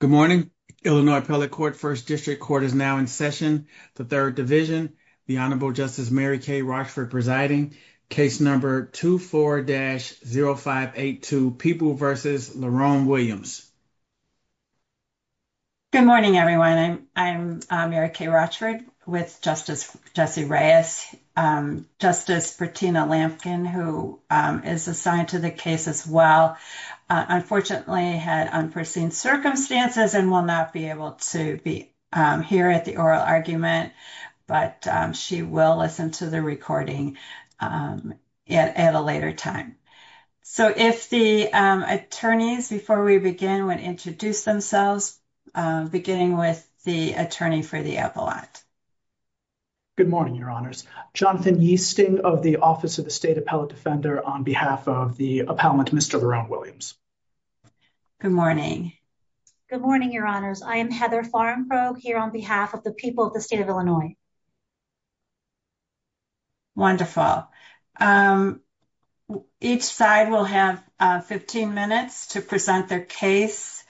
Good morning, Illinois Appellate Court, 1st District Court is now in session. The 3rd Division, the Honorable Justice Mary Kay Rochford presiding, case number 24-0582, Peeble v. Laron Williams. Good morning, everyone. I'm Mary Kay Rochford with Justice Jesse Reyes. Justice Bertina Lampkin, who is assigned to the case as well, unfortunately had unforeseen circumstances and will not be able to be here at the oral argument, but she will listen to the recording at a later time. So if the attorneys, before we begin, would introduce themselves, beginning with the attorney for the appellate. Good morning, Your Honors. Jonathan Easting of the Office of the State Appellate Defender on behalf of the appellant, Mr. Laron Williams. Good morning. Good morning, Your Honors. I am Heather Farnbrook here on behalf of the people of the state of Illinois. Wonderful. Each side will have 15 minutes to present their case.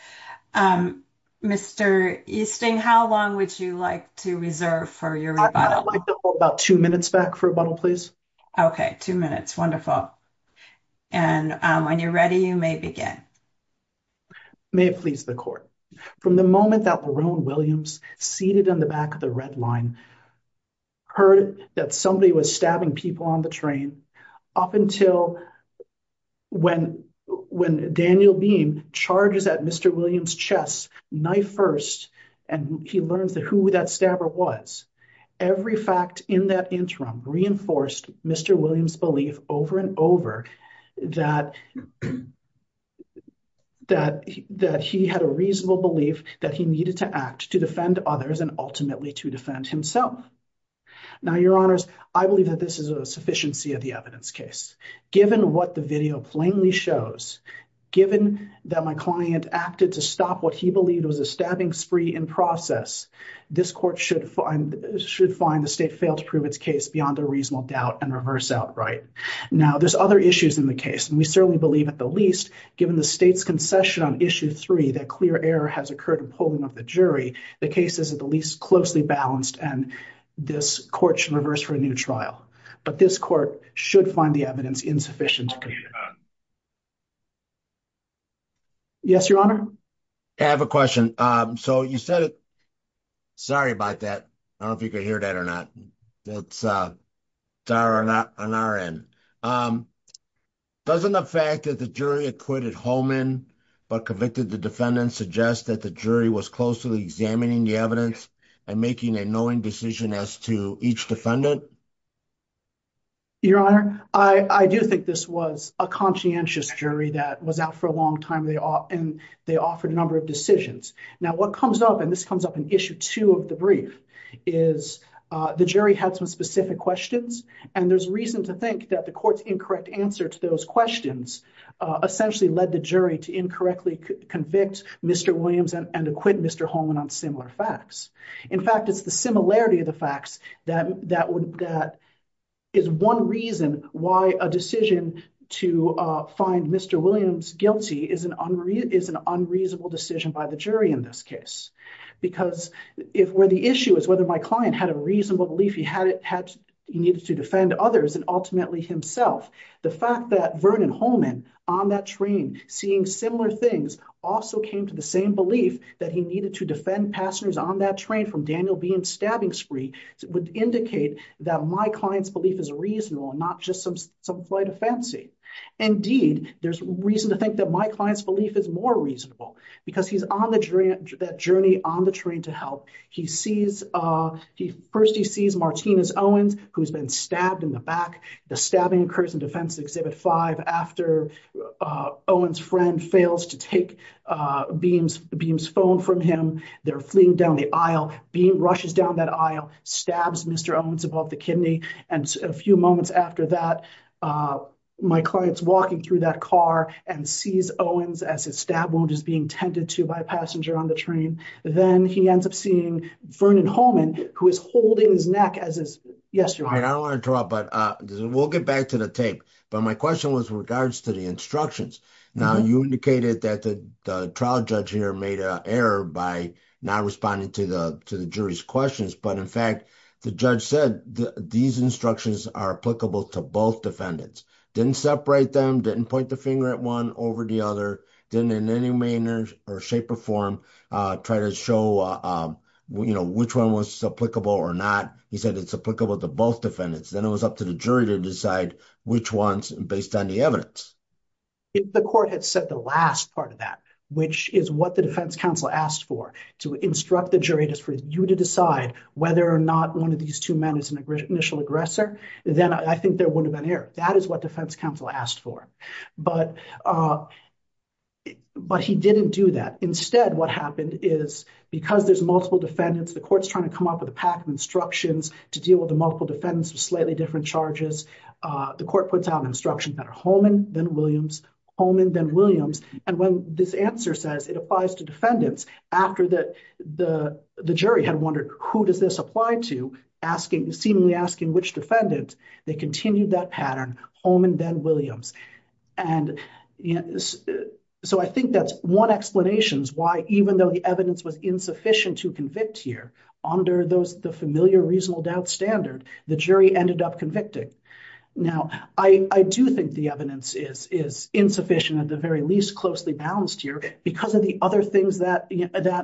Mr. Easting, how long would you like to reserve for your rebuttal? I'd like to hold about 2 minutes back for rebuttal, please. Okay, 2 minutes. Wonderful. And when you're ready, you may begin. May it please the Court. From the moment that Laron Williams, seated in the back of the red line, heard that somebody was stabbing people on the train, up until when Daniel Beam charges at Mr. Williams' chest, knife first, and he learns who that stabber was, every fact in that interim reinforced Mr. Williams' belief over and over that he had a reasonable belief that he needed to act to defend others and ultimately to defend himself. Now, Your Honors, I believe that this is a sufficiency of the evidence case. Given what the video plainly shows, given that my client acted to stop what he believed was a stabbing spree in process, this Court should find the State fail to prove its case beyond a reasonable doubt and reverse outright. Now, there's other issues in the case, and we certainly believe at the least, given the State's concession on Issue 3, that clear error has occurred in polling of the jury, the case is at the least closely balanced, and this Court should reverse for a new trial. But this Court should find the evidence insufficient to convict. Yes, Your Honor? I have a question. So you said, sorry about that. I don't know if you could hear that or not. That's on our end. Doesn't the fact that the jury acquitted Holman but convicted the defendant suggest that the jury was closely examining the evidence and making a knowing decision as to each defendant? Your Honor, I do think this was a conscientious jury that was out for a long time, and they offered a number of decisions. Now, what comes up, and this comes up in Issue 2 of the brief, is the jury had some specific questions, and there's reason to think that the Court's incorrect answer to those questions essentially led the jury to incorrectly convict Mr. Williams and acquit Mr. Holman on similar facts. In fact, it's the similarity of the facts that is one reason why a decision to find Mr. Williams guilty is an unreasonable decision by the jury in this case. Because where the issue is whether my client had a reasonable belief he needed to defend others and ultimately himself, the fact that Vernon Holman on that train seeing similar things also came to the same belief that he needed to defend passengers on that train from Daniel Behan's stabbing spree would indicate that my client's belief is reasonable and not just some flight of fancy. Indeed, there's reason to think that my client's belief is more reasonable because he's on that journey on the train to help. First, he sees Martinez Owens, who's been stabbed in the back. The stabbing occurs in Defense Exhibit 5 after Owens' friend fails to take Beam's phone from him. They're fleeing down the aisle. Beam rushes down that aisle, stabs Mr. Owens above the kidney, and a few moments after that, my client's walking through that car and sees Owens as his stab wound is being tended to by a passenger on the train. Then he ends up seeing Vernon Holman, who is holding his neck as his. Yes, you're right. I don't want to draw, but we'll get back to the tape. But my question was regards to the instructions. Now, you indicated that the trial judge here made an error by not responding to the jury's questions. But in fact, the judge said these instructions are applicable to both defendants, didn't separate them, didn't point the finger at one over the other, didn't in any manner or shape or form try to show which one was applicable or not. He said it's applicable to both defendants. Then it was up to the jury to decide which ones based on the evidence. If the court had said the last part of that, which is what the defense counsel asked for, to instruct the jury just for you to decide whether or not one of these two men is an initial aggressor, then I think there wouldn't have been an error. That is what defense counsel asked for. But he didn't do that. Instead, what happened is because there's multiple defendants, the court's trying to come up with a pack of instructions to deal with the multiple defendants with slightly different charges. The court puts out instructions that are Holman, then Williams, Holman, then Williams. And when this answer says it applies to defendants, after the jury had wondered who does this apply to, seemingly asking which defendant, they continued that pattern, Holman, then Williams. So I think that's one explanation as to why, even though the evidence was insufficient to convict here, under the familiar reasonable doubt standard, the jury ended up convicting. Now, I do think the evidence is insufficient, at the very least, closely balanced here because of the other things that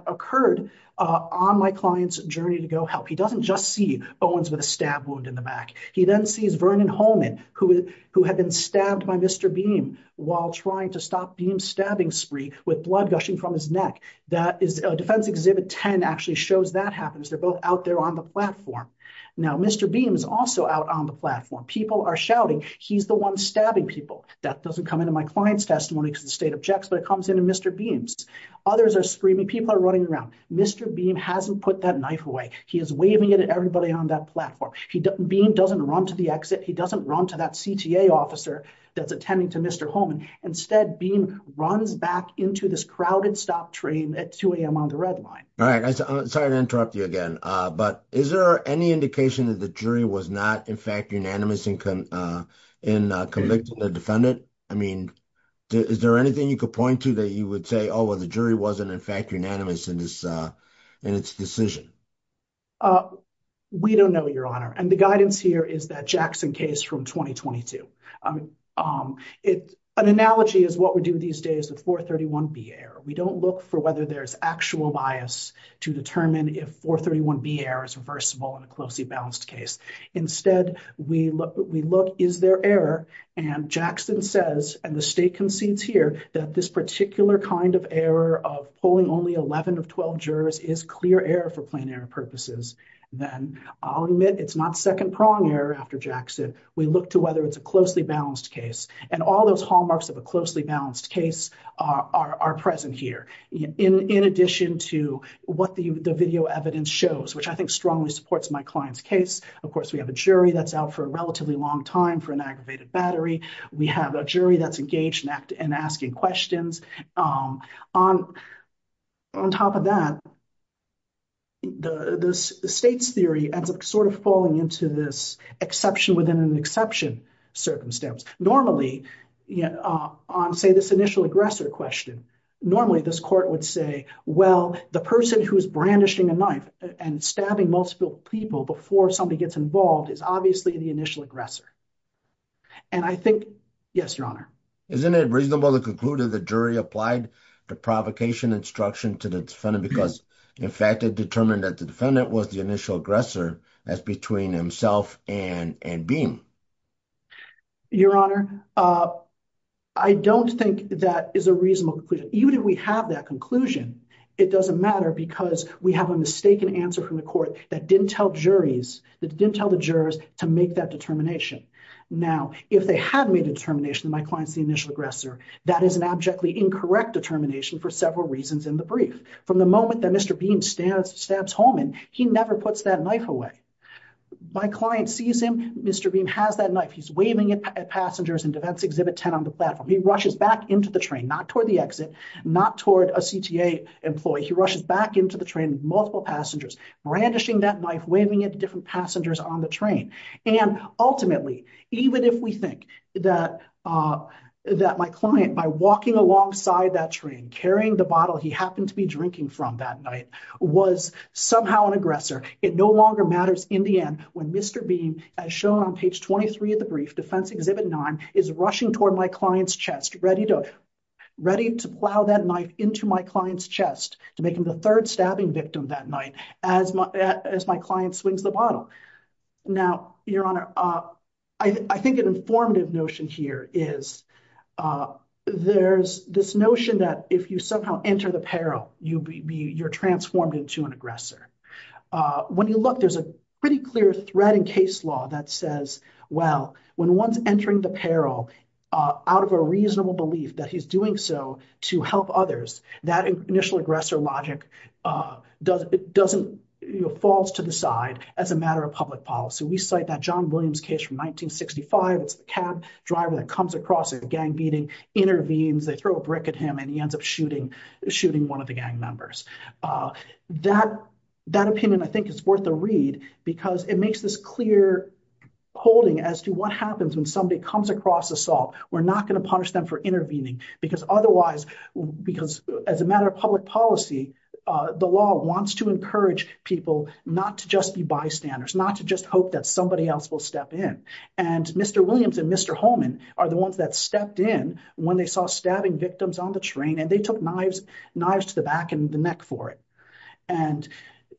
occurred on my client's journey to go help. He doesn't just see Owens with a stab wound in the back. He then sees Vernon Holman, who had been stabbed by Mr. Beam while trying to stop Beam's stabbing spree with blood gushing from his neck. Defense Exhibit 10 actually shows that happens. They're both out there on the platform. Now, Mr. Beam is also out on the platform. People are shouting, he's the one stabbing people. That doesn't come into my client's testimony because the state objects, but it comes into Mr. Beam's. Others are screaming, people are running around. Mr. Beam hasn't put that knife away. He is waving it at everybody on that platform. Beam doesn't run to the exit. He doesn't run to that CTA officer that's attending to Mr. Holman. Instead, Beam runs back into this crowded stop train at 2 a.m. on the red line. All right. Sorry to interrupt you again, but is there any indication that the jury was not, in fact, unanimous in convicting the defendant? I mean, is there anything you could point to that you would say, oh, well, the jury wasn't, in fact, unanimous in its decision? We don't know, Your Honor. And the guidance here is that Jackson case from 2022. An analogy is what we do these days, the 431B error. We don't look for whether there's actual bias to determine if 431B error is reversible in a closely balanced case. Instead, we look, is there error? And Jackson says, and the state concedes here, that this particular kind of error of pulling only 11 of 12 jurors is clear error for plain error purposes. Then I'll admit it's not second prong error after Jackson. We look to whether it's a closely balanced case. And all those hallmarks of a closely balanced case are present here. In addition to what the video evidence shows, which I think strongly supports my client's case. Of course, we have a jury that's out for a relatively long time for an aggravated battery. We have a jury that's engaged in asking questions. On top of that, the state's theory ends up sort of falling into this exception within an exception circumstance. Normally, on, say, this initial aggressor question, normally this court would say, well, the person who is brandishing a knife and stabbing multiple people before somebody gets involved is obviously the initial aggressor. And I think, yes, Your Honor. Isn't it reasonable to conclude that the jury applied the provocation instruction to the defendant because, in fact, it determined that the defendant was the initial aggressor as between himself and Beam? Your Honor, I don't think that is a reasonable conclusion. Even if we have that conclusion, it doesn't matter because we have a mistaken answer from the court that didn't tell juries, that didn't tell the jurors to make that determination. Now, if they had made a determination that my client's the initial aggressor, that is an abjectly incorrect determination for several reasons in the brief. From the moment that Mr. Beam stabs Holman, he never puts that knife away. My client sees him. Mr. Beam has that knife. He's waving it at passengers in Defense Exhibit 10 on the platform. He rushes back into the train, not toward the exit, not toward a CTA employee. He rushes back into the train with multiple passengers, brandishing that knife, waving it to different passengers on the train. And ultimately, even if we think that my client, by walking alongside that train, carrying the bottle he happened to be drinking from that night, was somehow an aggressor, it no longer matters in the end. When Mr. Beam, as shown on page 23 of the brief, Defense Exhibit 9, is rushing toward my client's chest, ready to plow that knife into my client's chest to make him the third stabbing victim that night as my client swings the bottle. Now, Your Honor, I think an informative notion here is there's this notion that if you somehow enter the peril, you're transformed into an aggressor. When you look, there's a pretty clear thread in case law that says, well, when one's entering the peril out of a reasonable belief that he's doing so to help others, that initial aggressor logic falls to the side as a matter of public policy. So we cite that John Williams case from 1965. It's the cab driver that comes across a gang beating, intervenes, they throw a brick at him, and he ends up shooting one of the gang members. That opinion, I think, is worth a read because it makes this clear holding as to what happens when somebody comes across assault. We're not going to punish them for intervening because otherwise, because as a matter of public policy, the law wants to encourage people not to just be bystanders, not to just hope that somebody else will step in. And Mr. Williams and Mr. Holman are the ones that stepped in when they saw stabbing victims on the train, and they took knives to the back and the neck for it. And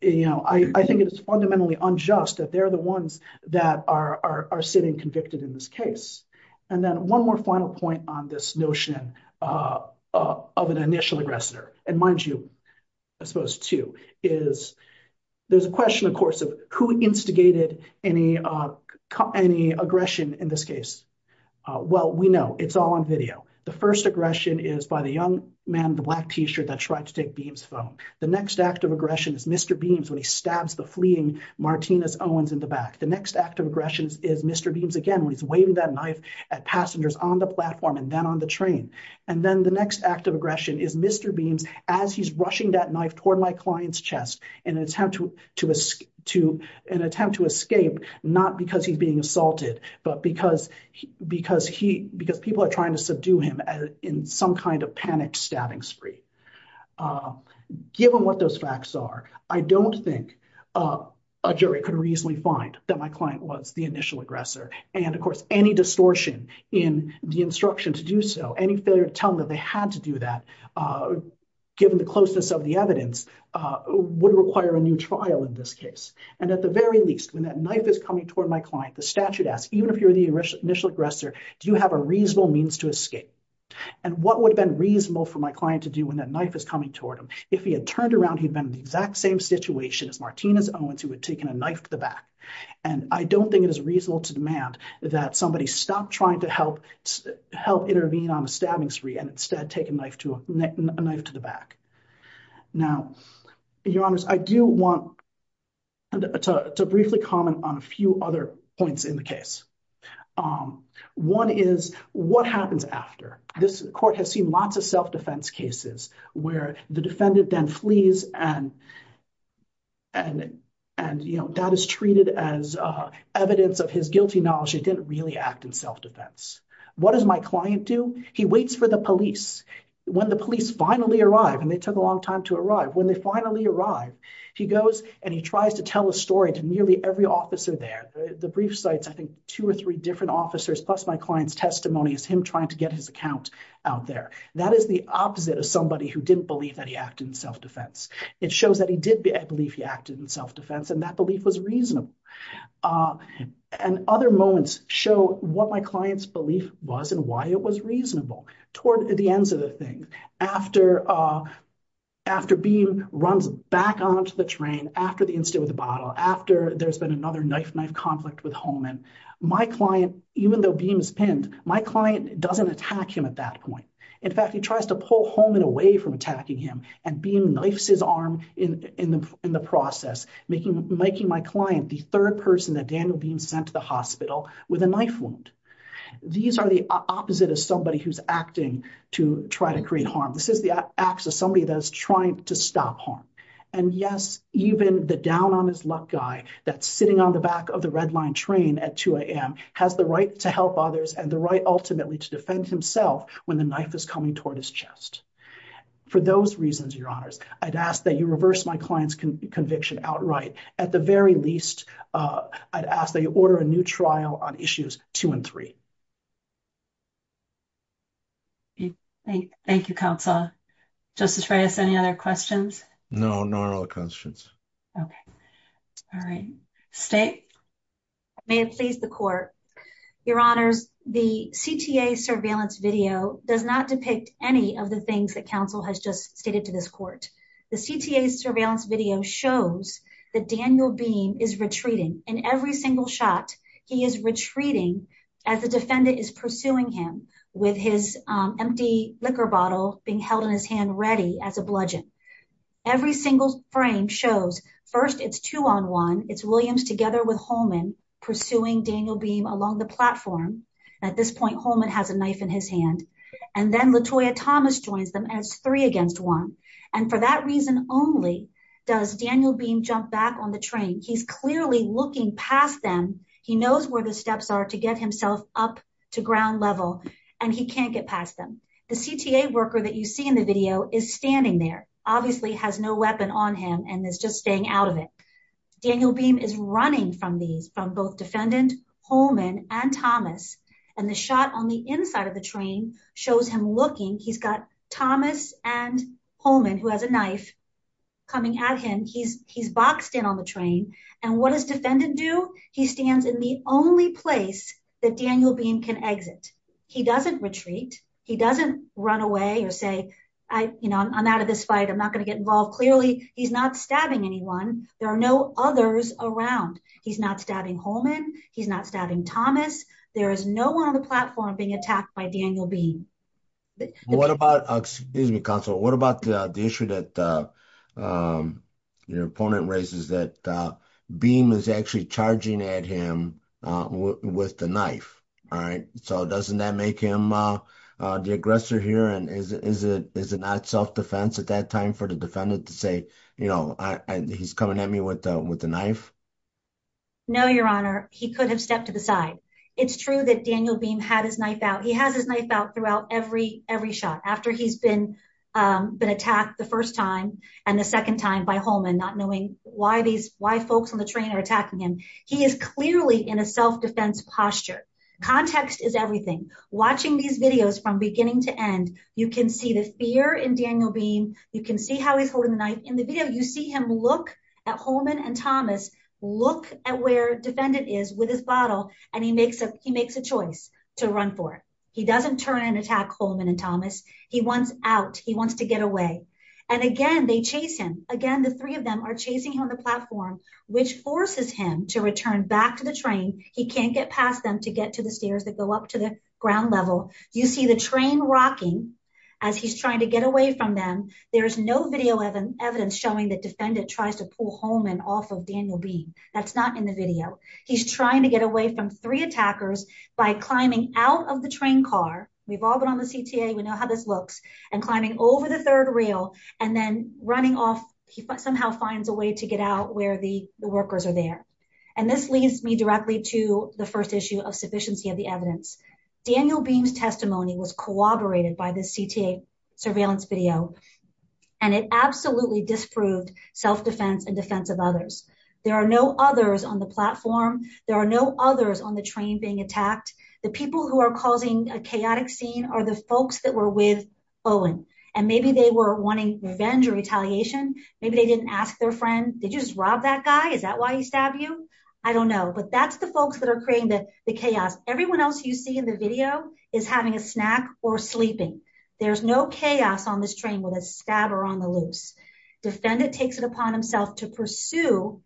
I think it is fundamentally unjust that they're the ones that are sitting convicted in this case. And then one more final point on this notion of an initial aggressor, and mind you, I suppose, too, is there's a question, of course, of who instigated any aggression in this case. Well, we know it's all on video. The first aggression is by the young man in the black t-shirt that tried to take Beams' phone. The next act of aggression is Mr. Beams when he stabs the fleeing Martinez Owens in the back. The next act of aggression is Mr. Beams again when he's waving that knife at passengers on the platform and then on the train. And then the next act of aggression is Mr. Beams as he's rushing that knife toward my client's chest in an attempt to escape, not because he's being assaulted, but because people are trying to subdue him in some kind of panicked stabbing spree. Given what those facts are, I don't think a jury could reasonably find that my client was the initial aggressor. And, of course, any distortion in the instruction to do so, any failure to tell them that they had to do that, given the closeness of the evidence, would require a new trial in this case. And at the very least, when that knife is coming toward my client, the statute asks, even if you're the initial aggressor, do you have a reasonable means to escape? And what would have been reasonable for my client to do when that knife is coming toward him? If he had turned around, he'd been in the exact same situation as Martinez Owens, who had taken a knife to the back. And I don't think it is reasonable to demand that somebody stop trying to help intervene on a stabbing spree and instead take a knife to the back. Now, Your Honors, I do want to briefly comment on a few other points in the case. One is, what happens after? This court has seen lots of self-defense cases where the defendant then flees and that is treated as evidence of his guilty knowledge he didn't really act in self-defense. What does my client do? He waits for the police. When the police finally arrive, and they took a long time to arrive, when they finally arrive, he goes and he tries to tell a story to nearly every officer there. The brief cites, I think, two or three different officers plus my client's testimony as him trying to get his account out there. That is the opposite of somebody who didn't believe that he acted in self-defense. It shows that he did believe he acted in self-defense and that belief was reasonable. And other moments show what my client's belief was and why it was reasonable. Toward the ends of the thing, after Beam runs back onto the train, after the incident with the bottle, after there's been another knife-knife conflict with Holman, my client, even though Beam is pinned, my client doesn't attack him at that point. In fact, he tries to pull Holman away from attacking him and Beam knifes his arm in the process, making my client the third person that Daniel Beam sent to the hospital with a knife wound. These are the opposite of somebody who's acting to try to create harm. This is the acts of somebody that is trying to stop harm. And yes, even the down-on-his-luck guy that's sitting on the back of the red line train at 2 a.m. has the right to help others and the right ultimately to defend himself when the knife is coming toward his chest. For those reasons, Your Honors, I'd ask that you reverse my client's conviction outright. At the very least, I'd ask that you order a new trial on issues 2 and 3. Thank you, Counselor. Justice Reyes, any other questions? No, not all questions. Okay. All right. State? May it please the Court. Your Honors, the CTA surveillance video does not depict any of the things that Counsel has just stated to this Court. The CTA surveillance video shows that Daniel Beam is retreating. In every single shot, he is retreating as the defendant is pursuing him with his empty liquor bottle being held in his hand ready as a bludgeon. Every single frame shows, first, it's two-on-one. It's Williams together with Holman pursuing Daniel Beam along the platform. At this point, Holman has a knife in his hand. And then Latoya Thomas joins them as three against one. And for that reason only, does Daniel Beam jump back on the train? He's clearly looking past them. He knows where the steps are to get himself up to ground level, and he can't get past them. The CTA worker that you see in the video is standing there, obviously has no weapon on him, and is just staying out of it. Daniel Beam is running from these, from both defendant, Holman, and Thomas. And the shot on the inside of the train shows him looking. He's got Thomas and Holman, who has a knife, coming at him. He's boxed in on the train. And what does defendant do? He stands in the only place that Daniel Beam can exit. He doesn't retreat. He doesn't run away or say, you know, I'm out of this fight. I'm not going to get involved. Clearly, he's not stabbing anyone. There are no others around. He's not stabbing Holman. He's not stabbing Thomas. There is no one on the platform being attacked by Daniel Beam. What about, excuse me, counsel, what about the issue that your opponent raises, that Beam is actually charging at him with the knife, all right? So doesn't that make him the aggressor here? And is it not self-defense at that time for the defendant to say, you know, he's coming at me with the knife? No, Your Honor. He could have stepped to the side. It's true that Daniel Beam had his knife out. He has his knife out throughout every shot, after he's been attacked the first time and the second time by Holman, not knowing why folks on the train are attacking him. He is clearly in a self-defense posture. Context is everything. Watching these videos from beginning to end, you can see the fear in Daniel Beam. You can see how he's holding the knife. In the video, you see him look at Holman and Thomas, look at where defendant is with his bottle, and he makes a choice to run for it. He doesn't turn and attack Holman and Thomas. He wants out. He wants to get away. And again, they chase him. Again, the three of them are chasing him on the platform, which forces him to return back to the train. He can't get past them to get to the stairs that go up to the ground level. You see the train rocking as he's trying to get away from them. There is no video evidence showing that defendant tries to pull Holman off of Daniel Beam. That's not in the video. He's trying to get away from three attackers by climbing out of the train car. We've all been on the CTA. We know how this looks. And climbing over the third rail and then running off. He somehow finds a way to get out where the workers are there. And this leads me directly to the first issue of sufficiency of the evidence. Daniel Beam's testimony was corroborated by the CTA surveillance video. And it absolutely disproved self-defense and defense of others. There are no others on the platform. There are no others on the train being attacked. The people who are causing a chaotic scene are the folks that were with Owen. And maybe they were wanting revenge or retaliation. Maybe they didn't ask their friend, did you just rob that guy? Is that why he stabbed you? I don't know. But that's the folks that are creating the chaos. Everyone else you see in the video is having a snack or sleeping. There's no chaos on this train with a stabber on the loose. Defendant takes it upon himself to pursue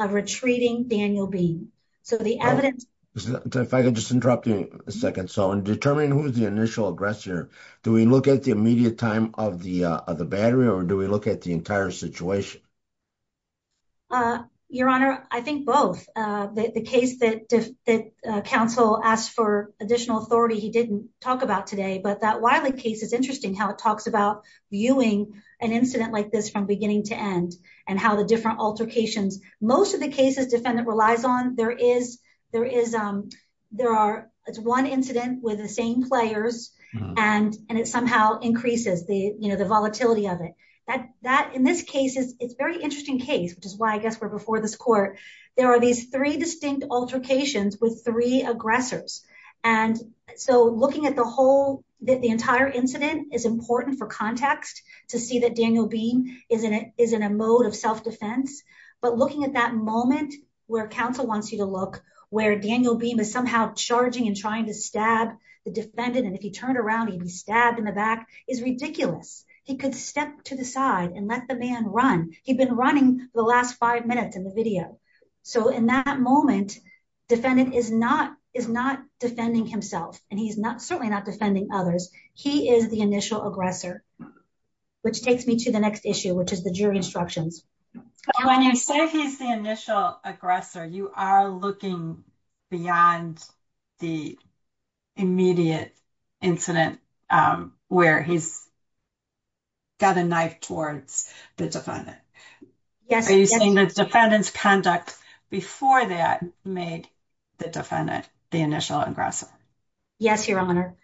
a retreating Daniel Beam. So the evidence. If I could just interrupt you a second. So in determining who's the initial aggressor, do we look at the immediate time of the battery or do we look at the entire situation? Your Honor, I think both. The case that counsel asked for additional authority, he didn't talk about today, but that Wiley case is interesting. How it talks about viewing an incident like this from beginning to end. And how the different altercations, most of the cases defendant relies on. There is. There is. There are. It's one incident with the same players. And, and it somehow increases the, you know, the volatility of it. That that in this case is it's very interesting case, which is why I guess we're before this court. There are these three distinct altercations with three aggressors. And so looking at the whole. The entire incident is important for context to see that Daniel beam. Isn't it? Isn't a mode of self-defense, but looking at that moment where counsel wants you to look where Daniel beam is somehow charging and trying to stab the defendant. And if he turned around, he'd be stabbed in the back is ridiculous. He could step to the side and let the man run. He could step to the side and let the man run. He's been running the last five minutes in the video. So in that moment, Defendant is not, is not defending himself and he's not, certainly not defending others. He is the initial aggressor. Which takes me to the next issue, which is the jury instructions. When you say he's the initial aggressor, you are looking. Beyond the. Immediate incident. Where he's. Got a knife towards the defendant. Yes. Defendants conduct before that made the defendant, the initial aggressor. Yes, your honor.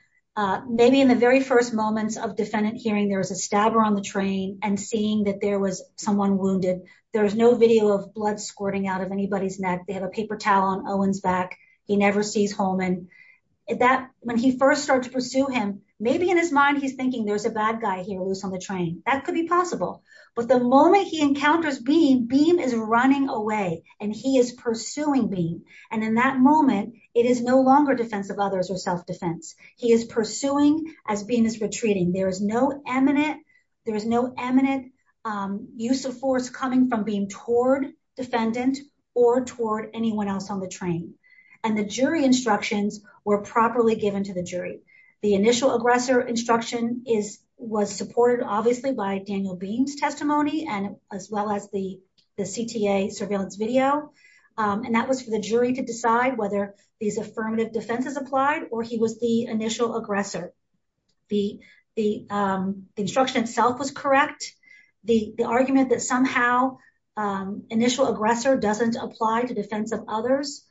Maybe in the very first moments of defendant hearing, there was a stabber on the train and seeing that there was someone wounded. There was no video of blood squirting out of anybody's neck. They have a paper towel on Owen's back. He never sees home. And that when he first started to pursue him, maybe in his mind, He's thinking there's a bad guy here loose on the train. That could be possible. But the moment he encounters being beam is running away and he is pursuing beam. And in that moment, it is no longer defensive others or self-defense. He is pursuing as being as retreating. There is no eminent. There is no eminent. Use of force coming from being toward defendant or toward anyone else on the train. And the jury instructions were properly given to the jury. The initial aggressor instruction is, was supported obviously by Daniel beams testimony and as well as the, the CTA surveillance video. And that was for the jury to decide whether these affirmative defenses applied, or he was the initial aggressor. The, the instruction itself was correct. The argument that somehow initial aggressor doesn't apply to defense of others.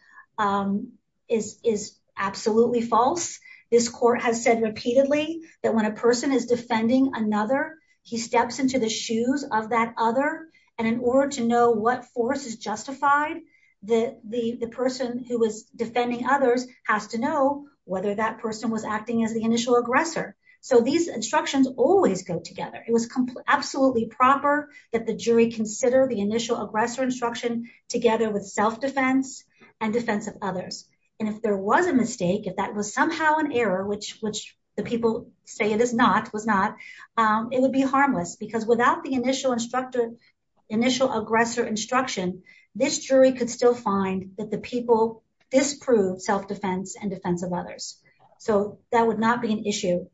Is, is absolutely false. This court has said repeatedly that when a person is defending another, he steps into the shoes of that other. And in order to know what force is justified, the, the, the person who was defending others has to know whether that person was acting as the initial aggressor. So these instructions always go together. It was absolutely proper that the jury consider the initial aggressor instruction together with self-defense and defensive others. And if there was a mistake, if that was somehow an error, which, which the people say it is not, was not it would be harmless because without the initial instructor, initial aggressor instruction, this jury could still find that the people disprove self-defense and defensive others. So that would not be an issue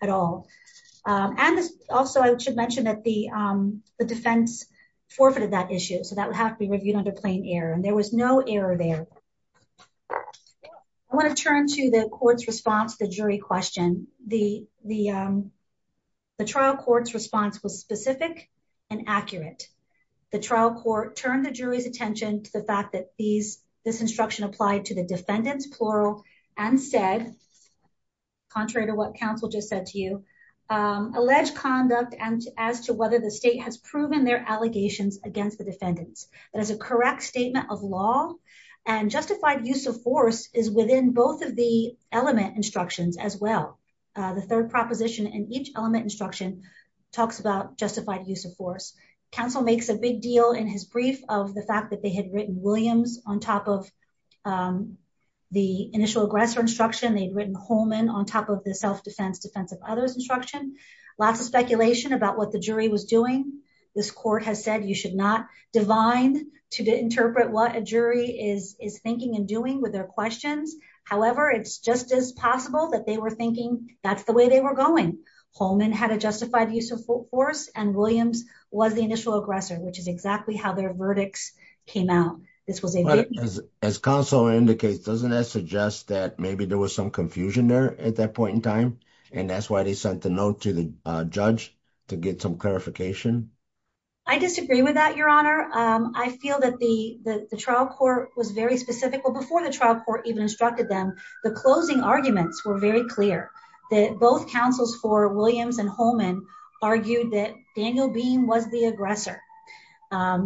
at all. And also I should mention that the the defense forfeited that issue. So that would have to be reviewed under plain air. And there was no error there. I want to turn to the court's response to the jury question. The, the, the trial court's response was specific and accurate. The trial court turned the jury's attention to the fact that these, this instruction applied to the defendants, plural and said, contrary to what council just said to you, alleged conduct and as to whether the state has proven their allegations against the defendants, that is a correct statement of law and justified use of force is within both of the element instructions as well. The third proposition in each element instruction talks about justified use of force. Council makes a big deal in his brief of the fact that they had written Williams on top of the initial aggressor instruction. They'd written Holman on top of the self-defense defensive others, instruction, lots of speculation about what the jury was doing. This court has said, you should not divine to interpret what a jury is, is thinking and doing with their questions. However, it's just as possible that they were thinking that's the way they were going. Holman had a justified use of force and Williams was the initial aggressor, which is exactly how their verdicts came out. This was. As council indicates, doesn't that suggest that maybe there was some confusion there at that point in time. And that's why they sent the note to the judge to get some clarification. I disagree with that. Your honor. I feel that the, the trial court was very specific. Well, before the trial court even instructed them, the closing arguments were very clear that both councils for Williams and Holman argued that Daniel beam was the aggressor.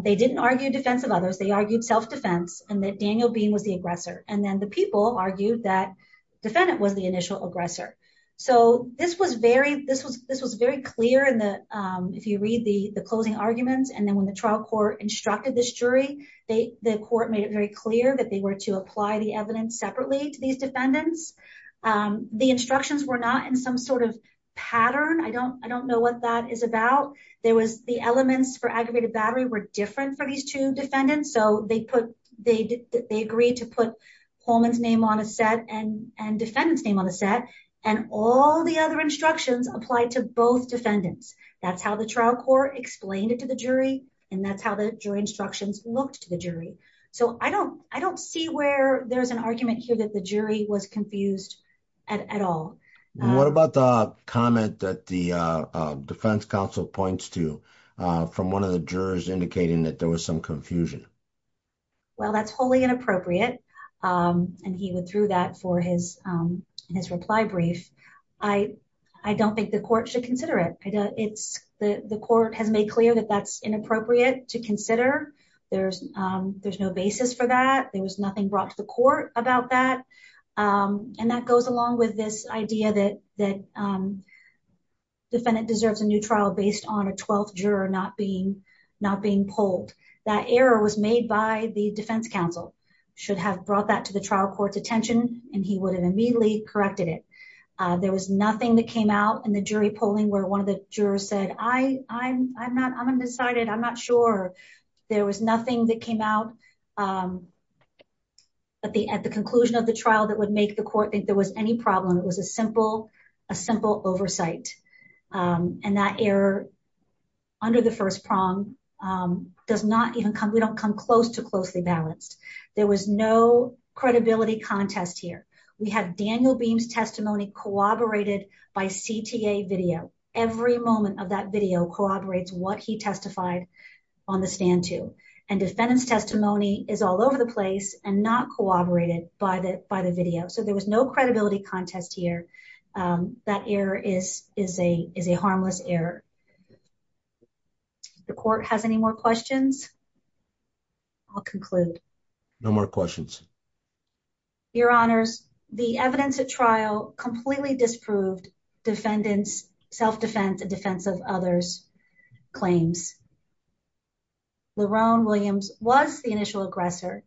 They didn't argue defensive others. They argued self-defense and that Daniel being was the aggressor. And then the people argued that defendant was the initial aggressor. So this was very, this was, this was very clear in the, if you read the closing arguments and then when the trial court instructed this jury, they, the court made it very clear that they were to apply the evidence separately to these defendants. The instructions were not in some sort of pattern. I don't, I don't know what that is about. There was the elements for aggravated battery were different for these two defendants. So they put, they, they agreed to put Holman's name on a set and defendants name on the set and all the other instructions applied to both defendants. That's how the trial court explained it to the jury. And that's how the jury instructions looked to the jury. So I don't, I don't see where there's an argument here that the jury was confused at all. What about the comment that the defense council points to from one of the jurors indicating that there was some confusion? Well, that's wholly inappropriate. And he went through that for his, his reply brief. I, I don't think the court should consider it. I know it's the, the court has made clear that that's inappropriate to consider. There's, there's no basis for that. There was nothing brought to the court about that. And that goes along with this idea that, that defendant deserves a new trial based on a 12th juror, not being, not being pulled. That error was made by the defense council. Should have brought that to the trial court's attention and he would have immediately corrected it. There was nothing that came out in the jury polling where one of the jurors said, I, I'm, I'm not, I'm undecided. I'm not sure. There was nothing that came out at the, at the conclusion of the trial that would make the court think there was any problem. It was a simple, a simple oversight. And that error under the first prong does not even come. We don't come close to closely balanced. There was no credibility contest here. We have Daniel beams testimony corroborated by CTA video. Every moment of that video corroborates what he testified on the stand too. And defendant's testimony is all over the place and not corroborated by the, by the video. So there was no credibility contest here. That error is, is a, is a harmless error. The court has any more questions. I'll conclude. No more questions. Your honors. The evidence at trial completely disproved defendants, self-defense and defense of others claims. LeRone Williams was the initial aggressor.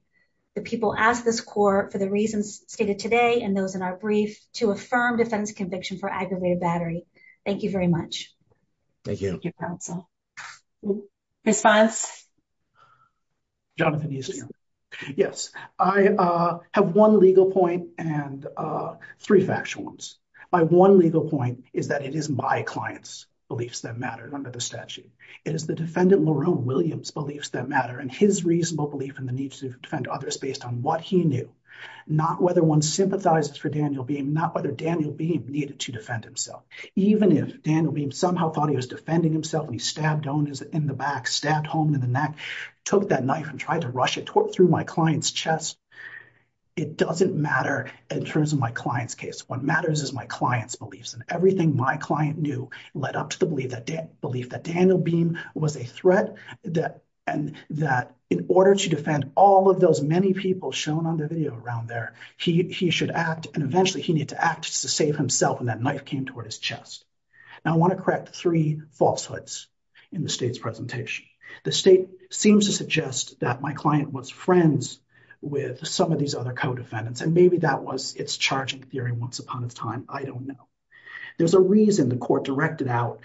The people asked this court for the reasons stated today and those in our brief to affirm defense conviction for aggravated battery. Thank you very much. Thank you. Response. Jonathan. Yes, I have one legal point and three factual ones. My one legal point is that it is my clients beliefs that matter under the statute. It is the defendant LeRone Williams beliefs that matter and his reasonable belief in the need to defend others based on what he knew, not whether one sympathizes for Daniel being not whether Daniel being needed to defend himself, even if Daniel beam somehow thought he was defending himself and he stabbed owners in the back, stabbed home in the neck, took that knife and tried to rush it through my client's chest. It doesn't matter in terms of my client's case. What matters is my client's beliefs and everything my client knew led up to the belief that Dan believed that Daniel beam was a threat that, and that in order to defend all of those many people shown on the video around there, he, he should act. And eventually he needed to act to save himself and that knife came toward his Now I want to correct the three falsehoods in the state's presentation. The state seems to suggest that my client was friends with some of these other co-defendants and maybe that was it's charging theory once upon a time. I don't know. There's a reason the court directed out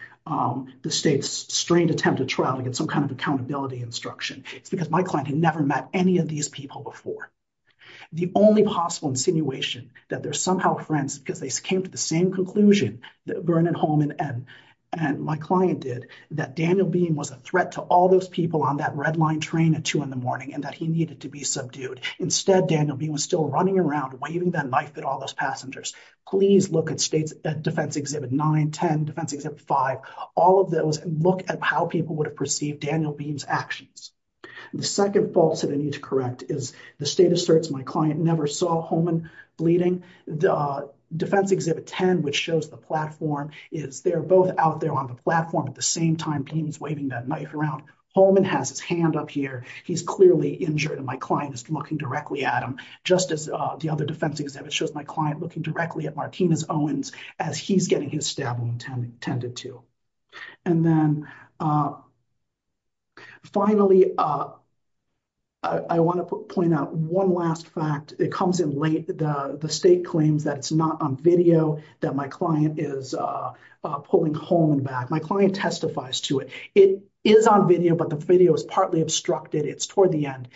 the state's strained attempt to trial against some kind of accountability instruction. It's because my client had never met any of these people before. The only possible insinuation that they're somehow friends because they came to the same conclusion that Vernon Holman and, and my client did that Daniel beam was a threat to all those people on that red line train at two in the morning and that he needed to be subdued. Instead, Daniel beam was still running around, waving that knife at all those passengers. Please look at states at defense exhibit nine, 10 defense exhibit five, all of those look at how people would have perceived Daniel beams actions. The second false that I need to correct is the state asserts. My client never saw Holman bleeding. The defense exhibit 10, which shows the platform is they're both out there on the platform at the same time beams waving that knife around. Holman has his hand up here. He's clearly injured. And my client is looking directly at him. Just as the other defense exhibit shows my client looking directly at Martinez Owens as he's getting his stab wound tended to. And then finally, I want to point out one last fact. It comes in late. The state claims that it's not on video that my client is pulling Holman back. My client testifies to it. It is on video, but the video is partly obstructed. It's toward the end.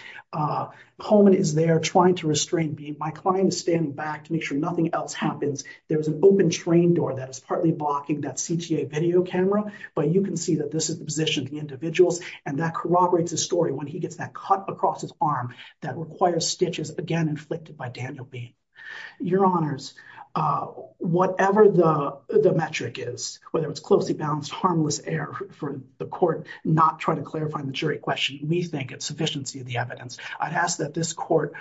Holman is there trying to restrain me. My client is standing back to make sure nothing else happens. There was an open train door that is partly blocking that CTA video camera, but you can see that this is the position of the individuals and that corroborates the story. When he gets that cut across his arm that requires stitches again, inflicted by Daniel B. Your honors, whatever the metric is, whether it's closely balanced harmless air for the court, not trying to clarify the jury question, we think it's sufficiency of the evidence. I'd ask that this court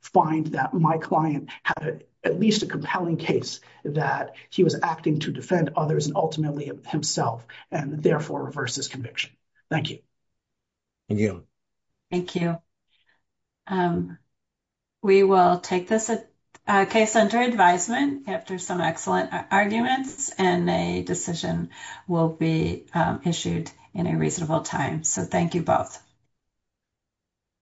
find that my client had at least a compelling case that he was acting to defend others and ultimately himself and therefore reverse this conviction. Thank you. Thank you. Thank you. We will take this case under advisement after some excellent arguments and a decision will be issued in a reasonable time. So thank you both.